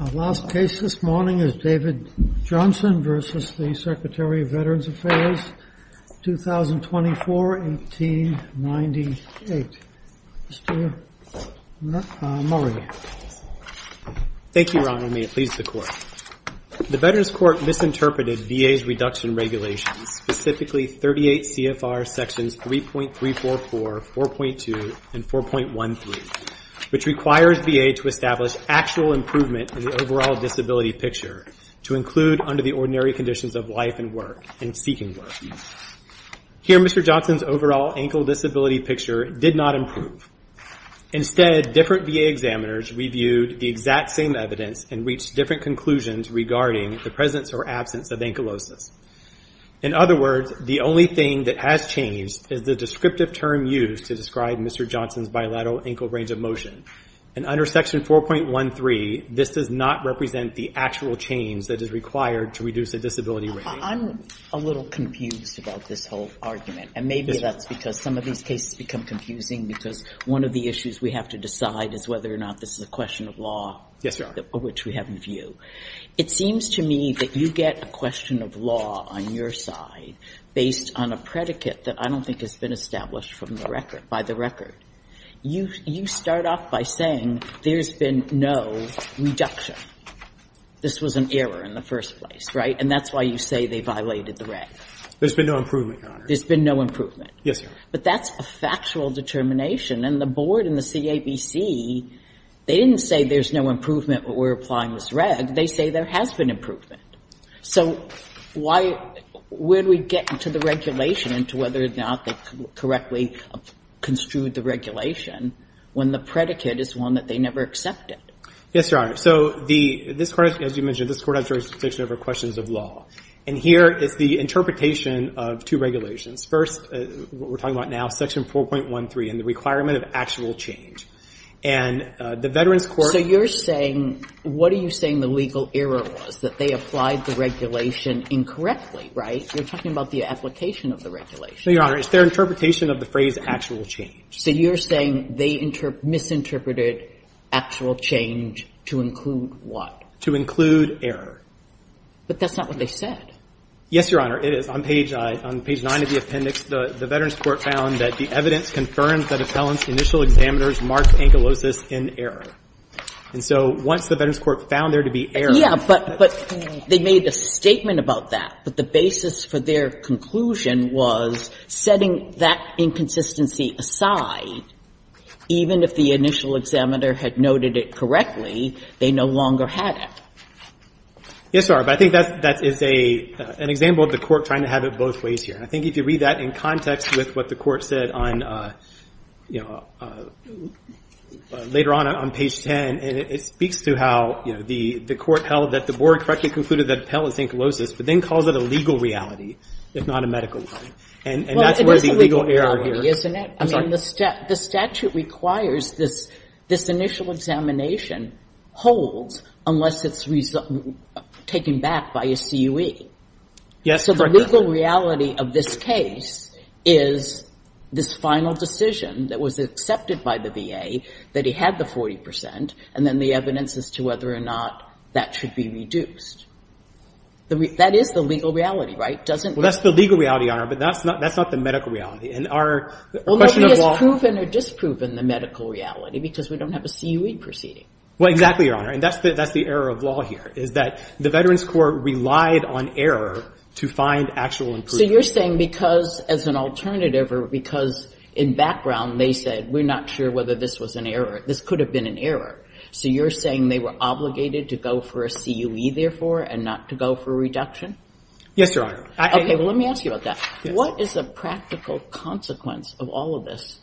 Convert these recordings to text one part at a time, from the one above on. The last case this morning is David Johnson v. Secretary of Veterans Affairs, 2024-1898. Mr. Murray. Thank you, Ron, and may it please the Court. The Veterans Court misinterpreted VA's reduction regulations, specifically 38 CFR sections 3.344, 4.2, and 4.13, which requires VA to establish actual improvement in the overall disability picture to include under the ordinary conditions of life and work and seeking work. Here, Mr. Johnson's overall ankle disability picture did not improve. Instead, different VA examiners reviewed the exact same evidence and reached different conclusions regarding the presence or absence of ankylosis. In other words, the only thing that has changed is the descriptive term used to describe Mr. Johnson's bilateral ankle range of motion. And under section 4.13, this does not represent the actual change that is required to reduce the disability rate. I'm a little confused about this whole argument, and maybe that's because some of these cases become confusing because one of the issues we have to decide is whether or not this is a question of law. Yes, Your Honor. Which we have in view. It seems to me that you get a question of law on your side based on a predicate that I don't think has been established from the record, by the record. You start off by saying there's been no reduction. This was an error in the first place, right? And that's why you say they violated the reg. There's been no improvement, Your Honor. There's been no improvement. Yes, Your Honor. But that's a factual determination. And the board and the CABC, they didn't say there's no improvement, but we're applying this reg. They say there has been improvement. So why, where do we get into the regulation, into whether or not they correctly construed the regulation, when the predicate is one that they never accepted? Yes, Your Honor. So this Court, as you mentioned, this Court has jurisdiction over questions of law. And here is the interpretation of two regulations. First, what we're talking about now, Section 4.13, and the requirement of actual change. And the Veterans Court So you're saying, what are you saying the legal error was? That they applied the regulation incorrectly, right? You're talking about the application of the regulation. No, Your Honor. It's their interpretation of the phrase actual change. So you're saying they misinterpreted actual change to include what? To include error. But that's not what they said. Yes, Your Honor. It is. On page 9 of the appendix, the Veterans Court found that the evidence confirms that a felon's initial examiners marked ankylosis in error. And so once the Veterans Court found there to be error, Yeah, but they made a statement about that. But the basis for their conclusion was setting that inconsistency aside, even if the initial examiner had noted it correctly, they no longer had it. Yes, Your Honor. But I think that is an example of the Court trying to have it both ways here. And I think if you read that in context with what the Court said on, you know, later on, on page 10, it speaks to how, you know, the Court held that the Board correctly concluded that a felon is ankylosis, but then calls it a legal reality, if not a medical one. And that's where the legal error is. Well, it is a legal reality, isn't it? I'm sorry. I mean, the statute requires this initial examination holds unless it's taken back by a CUE. Yes, correct, Your Honor. So the legal reality of this case is this final decision that was accepted by the VA, that he had the 40 percent, and then the evidence as to whether or not that should be reduced. That is the legal reality, right? Well, that's the legal reality, Your Honor, but that's not the medical reality. Well, nobody has proven or disproven the medical reality because we don't have a CUE proceeding. Well, exactly, Your Honor. And that's the error of law here is that the Veterans Court relied on error to find actual improvement. So you're saying because as an alternative or because in background they said, we're not sure whether this was an error, this could have been an error. So you're saying they were obligated to go for a CUE, therefore, and not to go for a reduction? Yes, Your Honor. Okay. Well, let me ask you about that. What is the practical consequence of all of this?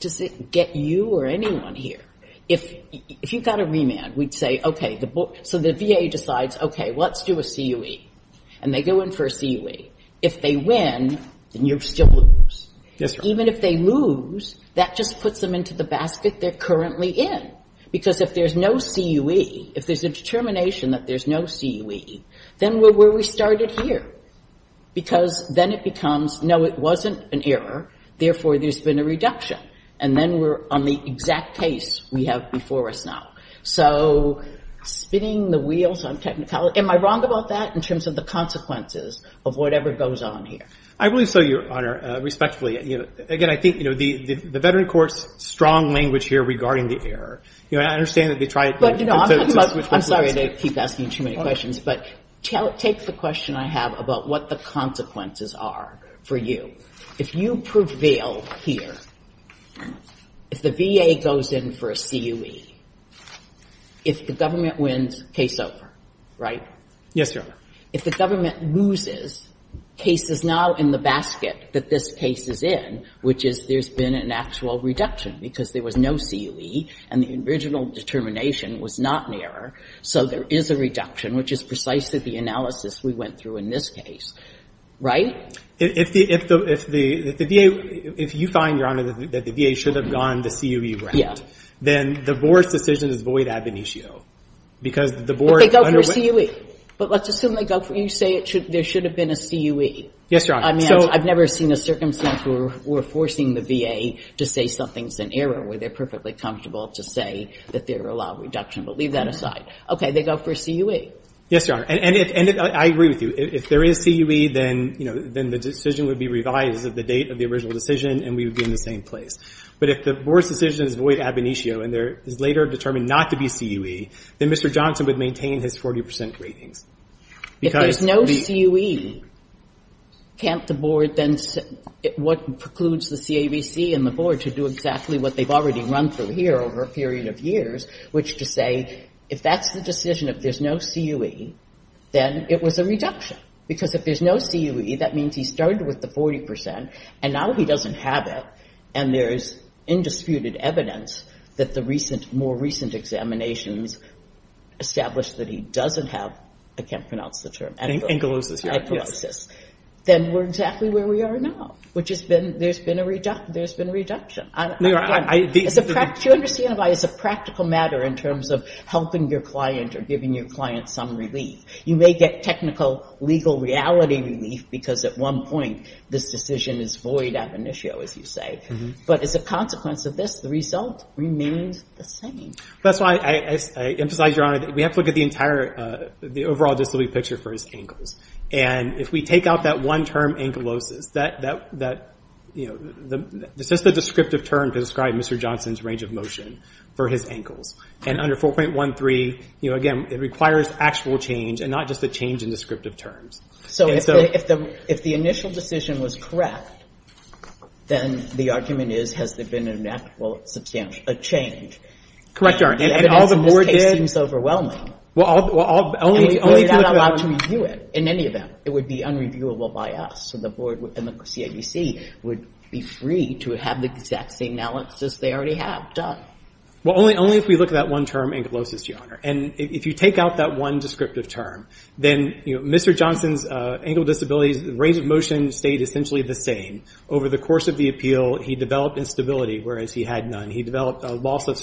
Does it get you or anyone here? If you've got a remand, we'd say, okay, so the VA decides, okay, let's do a CUE. And they go in for a CUE. If they win, then you still lose. Yes, Your Honor. Even if they lose, that just puts them into the basket they're currently in because if there's no CUE, if there's a determination that there's no CUE, then we're where we started here because then it becomes, no, it wasn't an error, therefore, there's been a reduction. And then we're on the exact case we have before us now. So spinning the wheels on technicality, am I wrong about that in terms of the consequences of whatever goes on here? I believe so, Your Honor, respectfully. Again, I think, you know, the veteran court's strong language here regarding the error. You know, I understand that they try to switch questions. I'm sorry to keep asking too many questions. But take the question I have about what the consequences are for you. If you prevail here, if the VA goes in for a CUE, if the government wins, case over, right? Yes, Your Honor. If the government loses, case is now in the basket that this case is in, which is there's been an actual reduction because there was no CUE, and the original determination was not an error. So there is a reduction, which is precisely the analysis we went through in this case, right? If the VA – if you find, Your Honor, that the VA should have gone the CUE route, then the board's decision is void ab initio because the board – But they go for a CUE. But let's assume they go for – you say there should have been a CUE. Yes, Your Honor. I've never seen a circumstance where we're forcing the VA to say something's an error where they're perfectly comfortable to say that there are a lot of reductions. But leave that aside. Okay, they go for a CUE. Yes, Your Honor. And I agree with you. If there is CUE, then, you know, then the decision would be revised at the date of the original decision, and we would be in the same place. But if the board's decision is void ab initio, and there is later determined not to be CUE, then Mr. Johnson would maintain his 40 percent ratings. If there's no CUE, can't the board then – what precludes the CAVC and the board to do exactly what they've already run through here over a period of years, which to say if that's the decision, if there's no CUE, then it was a reduction. Because if there's no CUE, that means he started with the 40 percent, and now he doesn't have it, and there is indisputed evidence that the more recent examinations established that he doesn't have – I can't pronounce the term – Ankylosis. Then we're exactly where we are now, which has been – there's been a reduction. Do you understand why it's a practical matter in terms of helping your client or giving your client some relief? You may get technical legal reality relief, because at one point this decision is void ab initio, as you say. But as a consequence of this, the result remains the same. That's why I emphasize, Your Honor, that we have to look at the entire – the overall disability picture for his ankles. And if we take out that one term, ankylosis, that's just the descriptive term to describe Mr. Johnson's range of motion for his ankles. And under 4.13, again, it requires actual change and not just a change in descriptive terms. So if the initial decision was correct, then the argument is, has there been an actual change? Correct, Your Honor. And all the board did – This case seems overwhelming. We're not allowed to review it in any event. It would be unreviewable by us. So the board and the CIDC would be free to have the exact same analysis they already have done. Well, only if we look at that one term, ankylosis, Your Honor. And if you take out that one descriptive term, then Mr. Johnson's ankle disabilities, range of motion stayed essentially the same. Over the course of the appeal, he developed instability, whereas he had none. He developed a loss of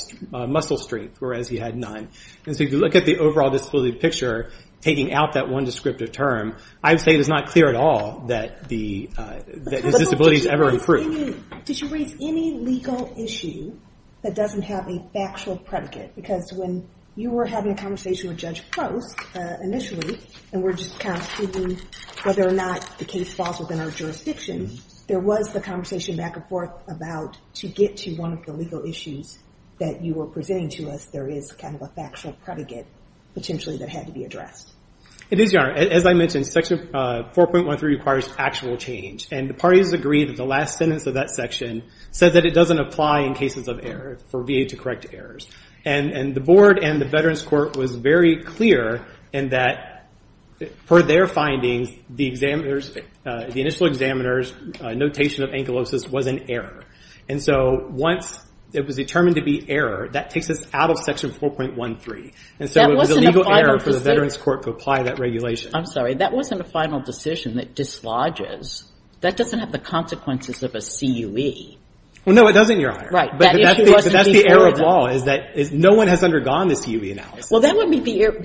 muscle strength, whereas he had none. And so if you look at the overall disability picture, taking out that one descriptive term, I would say it is not clear at all that his disabilities ever improved. Did you raise any legal issue that doesn't have a factual predicate? Because when you were having a conversation with Judge Prost initially, and we're just kind of seeing whether or not the case falls within our jurisdiction, there was the conversation back and forth about to get to one of the legal issues that you were presenting to us, there is kind of a factual predicate potentially that had to be addressed. It is, Your Honor. As I mentioned, Section 4.13 requires actual change. And the parties agreed that the last sentence of that section said that it doesn't apply in cases of error, for VA to correct errors. And the board and the Veterans Court was very clear in that, per their findings, the initial examiner's notation of ankylosis was an error. And so once it was determined to be error, that takes us out of Section 4.13. And so it was a legal error for the Veterans Court to apply that regulation. I'm sorry. That wasn't a final decision that dislodges. That doesn't have the consequences of a CUE. Well, no, it doesn't, Your Honor. Right. But that's the error of law, is that no one has undergone the CUE analysis. Well, that would be the error.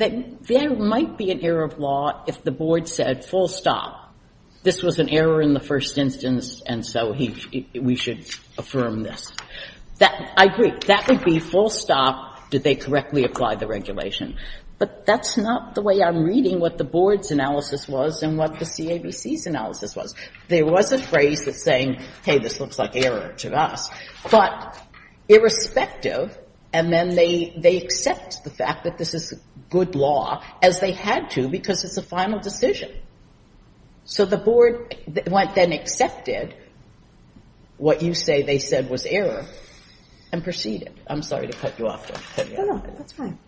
There might be an error of law if the board said, full stop, this was an error in the first instance, and so we should affirm this. I agree. That would be full stop, did they correctly apply the regulation. But that's not the way I'm reading what the board's analysis was and what the CABC's analysis was. There was a phrase that's saying, hey, this looks like error to us. But irrespective, and then they accept the fact that this is good law, as they had to, because it's a final decision. So the board then accepted what you say they said was error and proceeded. I'm sorry to cut you off there. No, no, that's fine.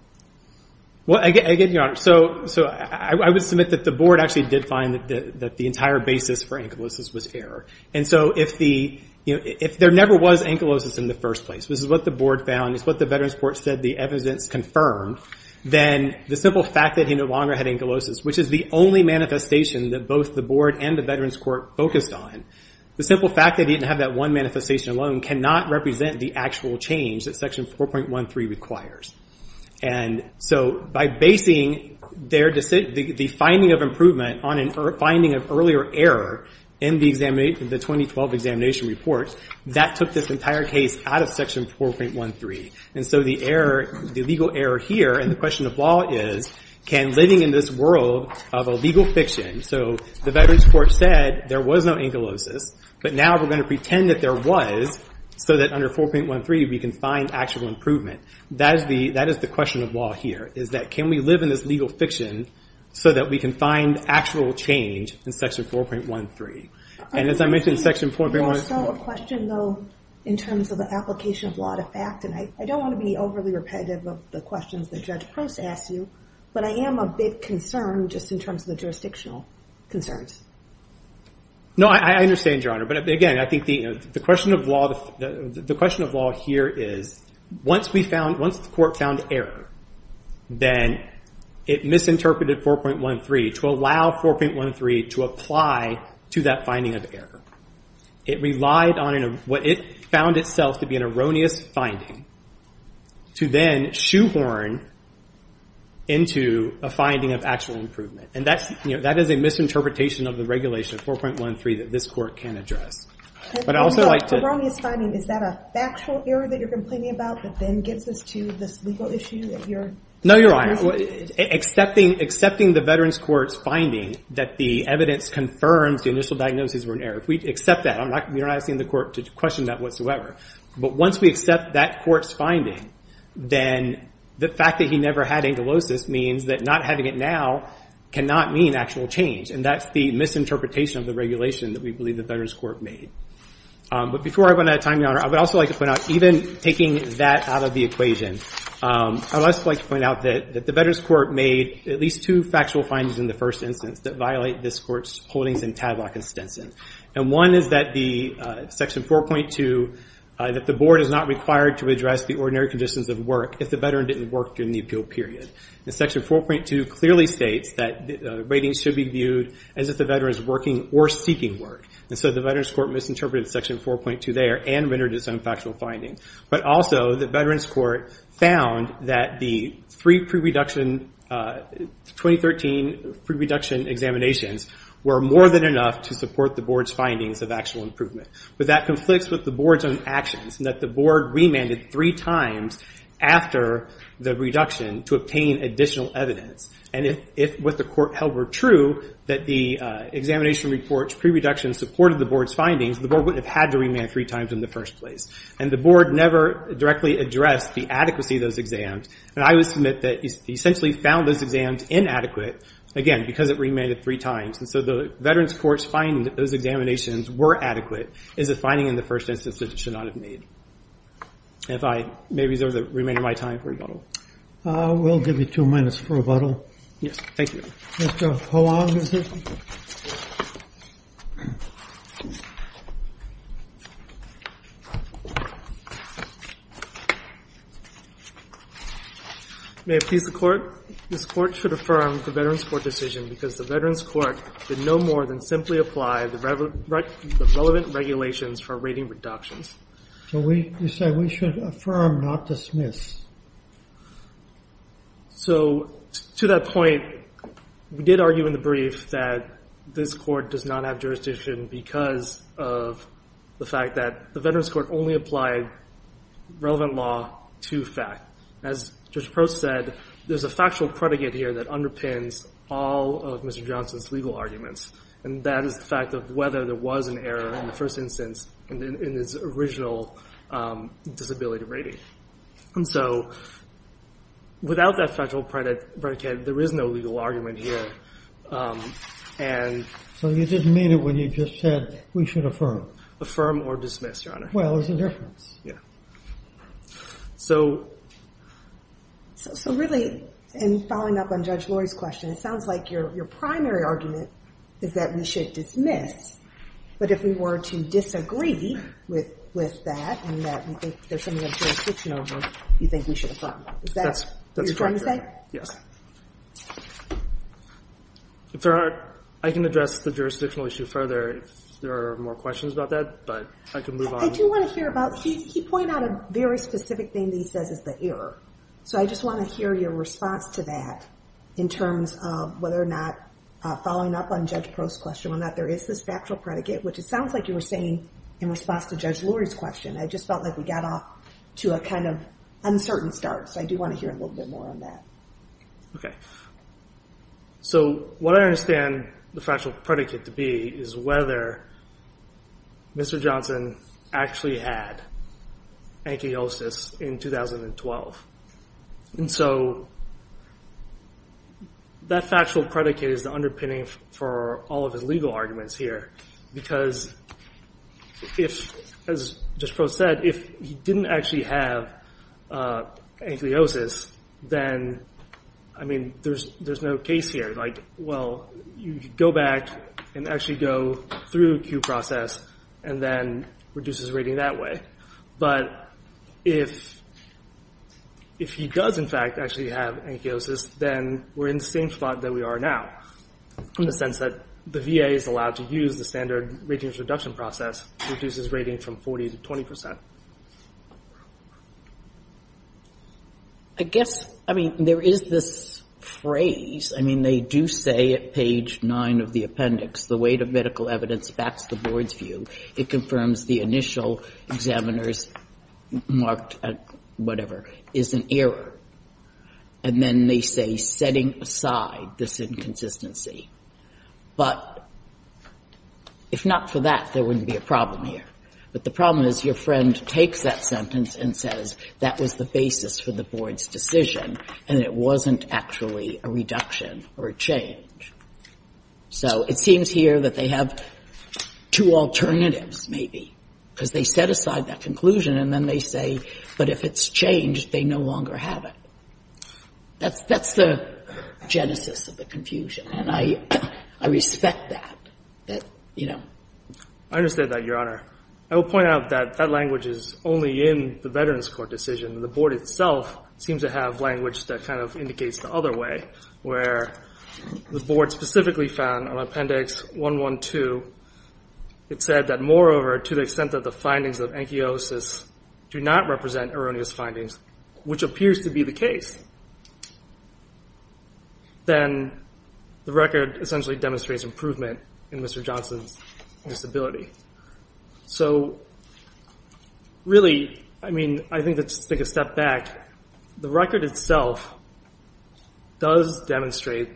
Well, again, Your Honor, so I would submit that the board actually did find that the entire basis for ankylosis was error. And so if there never was ankylosis in the first place, which is what the board found, is what the Veterans Court said the evidence confirmed, then the simple fact that he no longer had ankylosis, which is the only manifestation that both the board and the Veterans Court focused on, the simple fact that he didn't have that one manifestation alone cannot represent the actual change that Section 4.13 requires. And so by basing the finding of improvement on a finding of earlier error in the 2012 examination report, that took this entire case out of Section 4.13. And so the legal error here and the question of law is, can living in this world of a legal fiction, so the Veterans Court said there was no ankylosis, but now we're going to pretend that there was, so that under 4.13 we can find actual improvement. That is the question of law here, is that can we live in this legal fiction so that we can find actual change in Section 4.13. There is also a question, though, in terms of the application of law to fact, and I don't want to be overly repetitive of the questions that Judge Post asked you, but I am a bit concerned just in terms of the jurisdictional concerns. No, I understand, Your Honor, but again, I think the question of law here is once the court found error, then it misinterpreted 4.13 to allow 4.13 to apply to that finding of error. It relied on what it found itself to be an erroneous finding to then shoehorn into a finding of actual improvement. And that is a misinterpretation of the regulation of 4.13 that this court can address. An erroneous finding, is that a factual error that you're complaining about that then gets us to this legal issue? No, Your Honor. Accepting the veteran's court's finding that the evidence confirms the initial diagnosis were an error, if we accept that, we're not asking the court to question that whatsoever, but once we accept that court's finding, then the fact that he never had ankylosis means that not having it now cannot mean actual change, and that's the misinterpretation of the regulation that we believe the veteran's court made. But before I run out of time, Your Honor, I would also like to point out, even taking that out of the equation, I would also like to point out that the veteran's court made at least two factual findings in the first instance that violate this court's holdings in Tadlock and Stinson. And one is that the Section 4.2, that the board is not required to address the ordinary conditions of work if the veteran didn't work during the appeal period. And Section 4.2 clearly states that ratings should be viewed as if the veteran is working or seeking work. And so the veteran's court misinterpreted Section 4.2 there and rendered its own factual findings. But also the veteran's court found that the three pre-reduction, 2013 pre-reduction examinations were more than enough to support the board's findings of actual improvement. But that conflicts with the board's own actions, and that the board remanded three times after the reduction to obtain additional evidence. And if what the court held were true, that the examination reports pre-reduction supported the board's findings, the board wouldn't have had to remand three times in the first place. And the board never directly addressed the adequacy of those exams. And I would submit that it essentially found those exams inadequate, again, because it remanded three times. And so the veteran's court's finding that those examinations were adequate is a finding in the first instance that it should not have made. And if I may reserve the remainder of my time for rebuttal. We'll give you two minutes for rebuttal. Yes, thank you. Mr. Hoang, is it? May it please the Court? This Court should affirm the veteran's court decision because the veteran's court did no more than simply apply the relevant regulations for rating reductions. So you say we should affirm, not dismiss. So to that point, we did argue in the brief that this court does not have jurisdiction because of the fact that the veteran's court only applied relevant law to fact. As Judge Prost said, there's a factual predicate here that underpins all of Mr. Johnson's legal arguments. And that is the fact of whether there was an error in the first instance in his original disability rating. And so without that factual predicate, there is no legal argument here. So you just made it when you just said we should affirm. Affirm or dismiss, Your Honor. Well, there's a difference. So really, in following up on Judge Lori's question, it sounds like your primary argument is that we should dismiss. But if we were to disagree with that, and that you think there's something unjurisdictional, you think we should affirm. Is that what you're trying to say? I can address the jurisdictional issue further if there are more questions about that, but I can move on. I do want to hear about... He pointed out a very specific thing that he says is the error. So I just want to hear your response to that in terms of whether or not following up on Judge Prost's question on that there is this factual predicate, which it sounds like you were saying in response to Judge Lori's question. I just felt like we got off to a kind of uncertain start. So I do want to hear a little bit more on that. Okay. So what I understand the factual predicate to be is whether Mr. Johnson actually had ankylosis in 2012. And so that factual predicate is the underpinning for all of his legal arguments here. Because if, as Judge Prost said, if he didn't actually have ankylosis, then, I mean, there's no case here. Like, well, you could go back and actually go through a Q process and then reduce his rating that way. But if he does, in fact, actually have ankylosis, then we're in the same spot that we are now in the sense that the VA is allowed to use the standard ratings reduction process to reduce his rating from 40% to 20%. I guess, I mean, there is this phrase. I mean, they do say at page 9 of the appendix, the weight of medical evidence backs the board's view. It confirms the initial examiner's marked at whatever is an error. And then they say setting aside this inconsistency. But if not for that, there wouldn't be a problem here. But the problem is your friend takes that sentence and says that was the basis for the board's decision and it wasn't actually a reduction or a change. So it seems here that they have two alternatives, maybe, because they set aside that conclusion and then they say, but if it's changed, they no longer have it. That's the genesis of the confusion. And I respect that, that, you know. I understand that, Your Honor. I will point out that that language is only in the Veterans Court decision. The board itself seems to have language that kind of indicates the other way, where the board specifically found on Appendix 112, it said that, moreover, to the extent that the findings of ankylosis do not represent erroneous findings, which appears to be the case, then the record essentially demonstrates improvement in Mr. Johnson's disability. So really, I mean, I think to take a step back, the record itself does demonstrate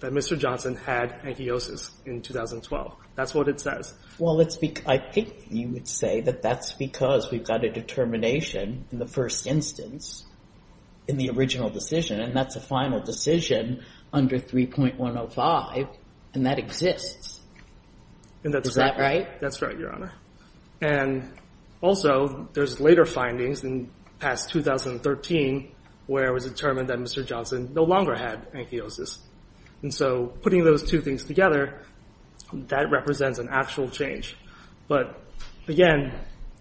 that Mr. Johnson had ankylosis in 2012. That's what it says. Well, I think you would say that that's because we've got a determination in the first instance in the original decision, and that's a final decision under 3.105, and that exists. Is that right? That's right, Your Honor. And also, there's later findings in past 2013 where it was determined that Mr. Johnson no longer had ankylosis. And so putting those two things together, that represents an actual change. But again,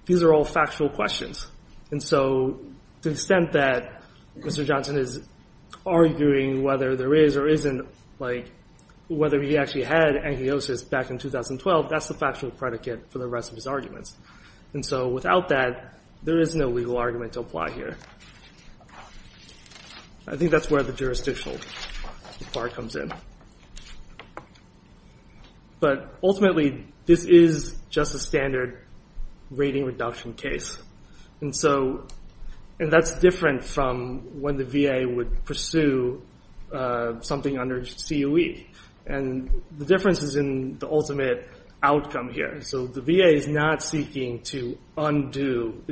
these are all factual questions. And so to the extent that Mr. Johnson is arguing whether there is or isn't, like, whether he actually had ankylosis back in 2012, that's the factual predicate for the rest of his arguments. And so without that, there is no legal argument to apply here. I think that's where the jurisdictional part comes in. But ultimately, this is just a standard rating reduction case. And that's different from when the VA would pursue something under COE. And the difference is in the ultimate outcome here. So the VA is not seeking to undo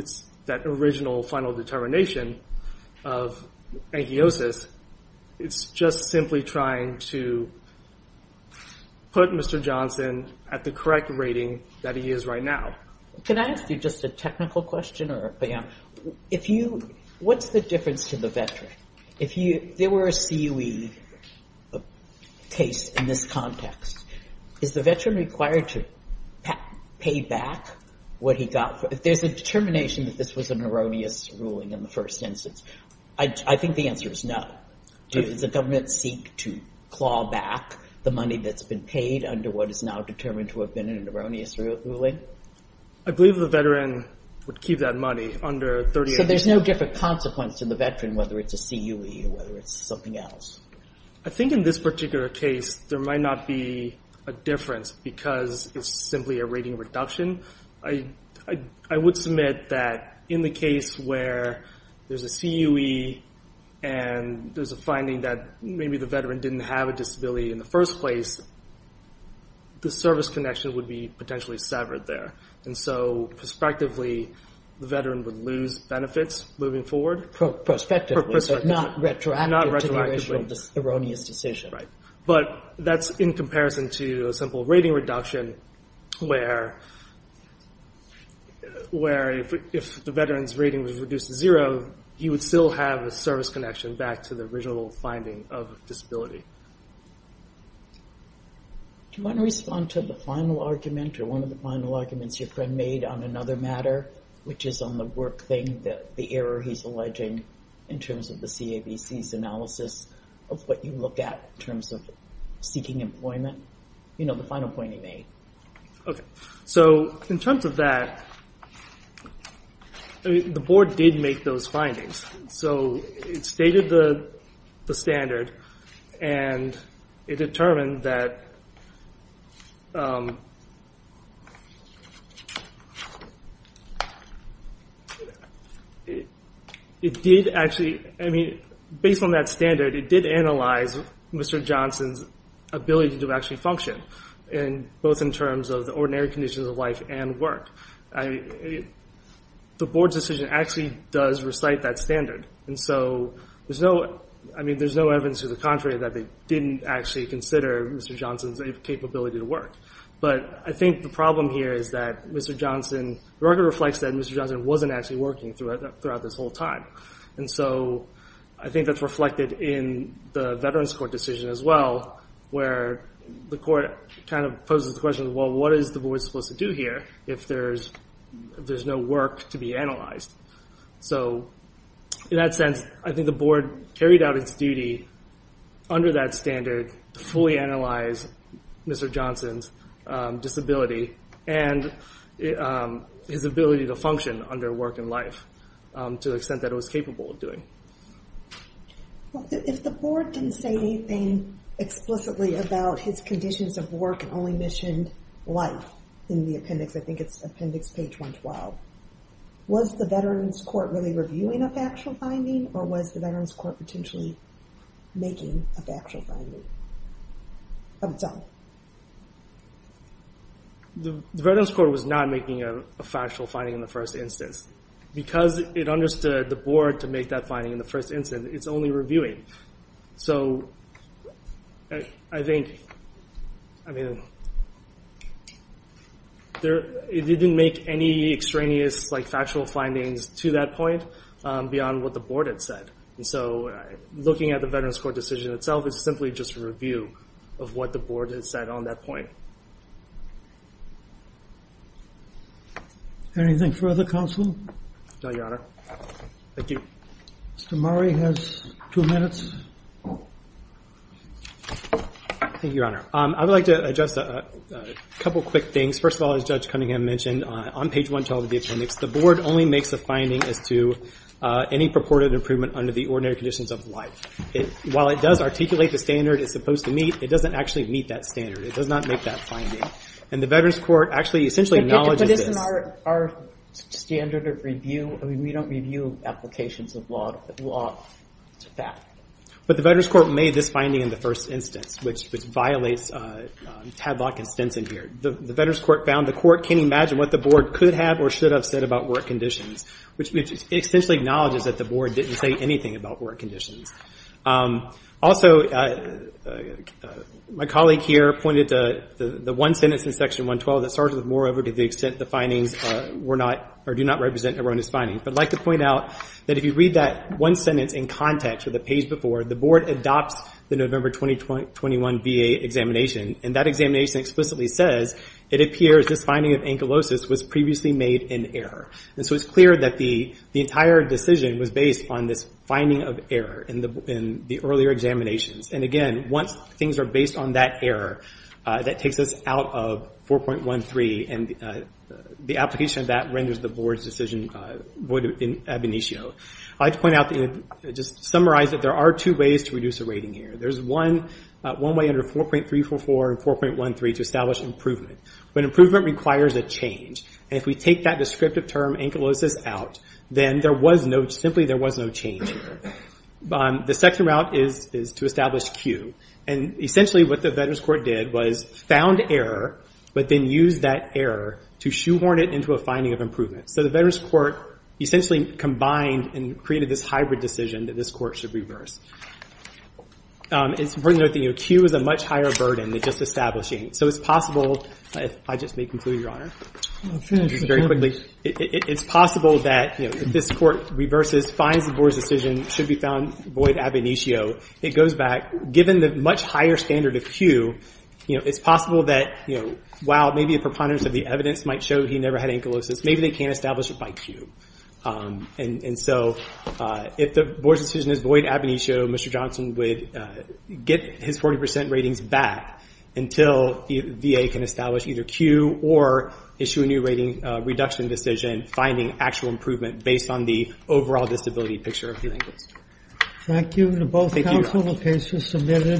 that original final determination of ankylosis. It's just simply trying to put Mr. Johnson at the correct rating that he is right now. Can I ask you just a technical question? What's the difference to the veteran? If there were a COE case in this context, is the veteran required to pay back what he got? There's a determination that this was an erroneous ruling in the first instance. I think the answer is no. Does the government seek to claw back the money that's been paid under what is now determined to have been an erroneous ruling? I believe the veteran would keep that money under 30 days. So there's no different consequence to the veteran, whether it's a COE or whether it's something else. I think in this particular case, there might not be a difference because it's simply a rating reduction. I would submit that in the case where there's a COE and there's a finding that maybe the veteran didn't have a disability in the first place, the service connection would be potentially severed there. And so prospectively, the veteran would lose benefits moving forward. Prospectively, so not retroactive to the original erroneous decision. But that's in comparison to a simple rating reduction where if the veteran's rating was reduced to zero, he would still have a service connection back to the original finding of disability. Do you want to respond to the final argument or one of the final arguments your friend made on another matter, which is on the work thing, the error he's alleging in terms of the CABC's analysis of what you look at in terms of seeking employment? The final point he made. In terms of that, the board did make those findings. It stated the standard and it determined that it did actually, based on that standard, it did analyze Mr. Johnson's ability to actually function, both in terms of the ordinary conditions of life and work. The board's decision actually does recite that standard. And so there's no evidence to the contrary that they didn't actually consider Mr. Johnson's capability to work. But I think the problem here is that the record reflects that Mr. Johnson wasn't actually working throughout this whole time. And so I think that's reflected in the Veterans Court decision as well, where the court kind of poses the question, well, what is the board supposed to do here if there's no work to be analyzed? In that sense, I think the board carried out its duty under that standard to fully analyze Mr. Johnson's disability and his ability to function under work and life to the extent that it was capable of doing. If the board didn't say anything explicitly about his conditions of work and only mentioned life in the appendix, I think it's appendix page 112, was the Veterans Court really reviewing a factual finding or was the Veterans Court potentially making a factual finding of its own? The Veterans Court was not making a factual finding in the first instance. Because it understood the board to make that finding in the first instance, it's only reviewing. So I think it didn't make any extraneous factual findings to that point beyond what the board had said. Looking at the Veterans Court decision itself is simply just a review of what the board has said on that point. Anything further, Counsel? No, Your Honor. Mr. Murray has two minutes. I would like to address a couple quick things. First of all, as Judge Cunningham mentioned, on page 112 of the appendix, the board only makes a finding as to any purported improvement under the ordinary conditions of life. While it does articulate the standard it's supposed to meet, it doesn't actually meet that standard. It does not make that finding. And the Veterans Court actually essentially acknowledges this. But isn't our standard of review, I mean, we don't review applications of law to that. But the Veterans Court made this finding in the first instance, which violates Tadlock and Stinson here. The Veterans Court found the court can't imagine what the board could have or should have said about work conditions, which essentially acknowledges that the board didn't say anything about work conditions. Also, my colleague here pointed to the one sentence in section 112 that starts with, moreover, to the extent the findings were not or do not represent erroneous findings. I'd like to point out that if you read that one sentence in context of the page before, the board adopts the November 2021 VA examination. And that examination explicitly says, it appears this finding of ankylosis was previously made in error. And so it's clear that the entire decision was based on this finding of error in the earlier examinations. And again, once things are based on that error, that takes us out of 4.13, and the application of that renders the board's decision void in ab initio. I'd like to point out, just summarize that there are two ways to reduce a rating error. There's one way under 4.344 and 4.13 to establish improvement. But improvement requires a change. And if we take that descriptive term, ankylosis, out, then simply there was no change. The second route is to establish cue. And essentially what the Veterans Court did was found error, but then used that error to shoehorn it into a finding of improvement. So the Veterans Court essentially combined and created this hybrid decision that this court should reverse. It's important to note that cue is a much higher burden than just establishing. So it's possible, if I just may conclude, Your Honor, very quickly, it's possible that if this court reverses, finds the board's decision should be found void ab initio, it goes back, given the much higher standard of cue, it's possible that while maybe a preponderance of the evidence might show he never had ankylosis, maybe they can't establish it by cue. And so if the board's decision is void ab initio, Mr. Johnson would get his 40% ratings back until VA can establish either cue or issue a new rating reduction decision, finding actual improvement based on the overall disability picture of the ankylosis. Thank you to both counsel. The case is submitted.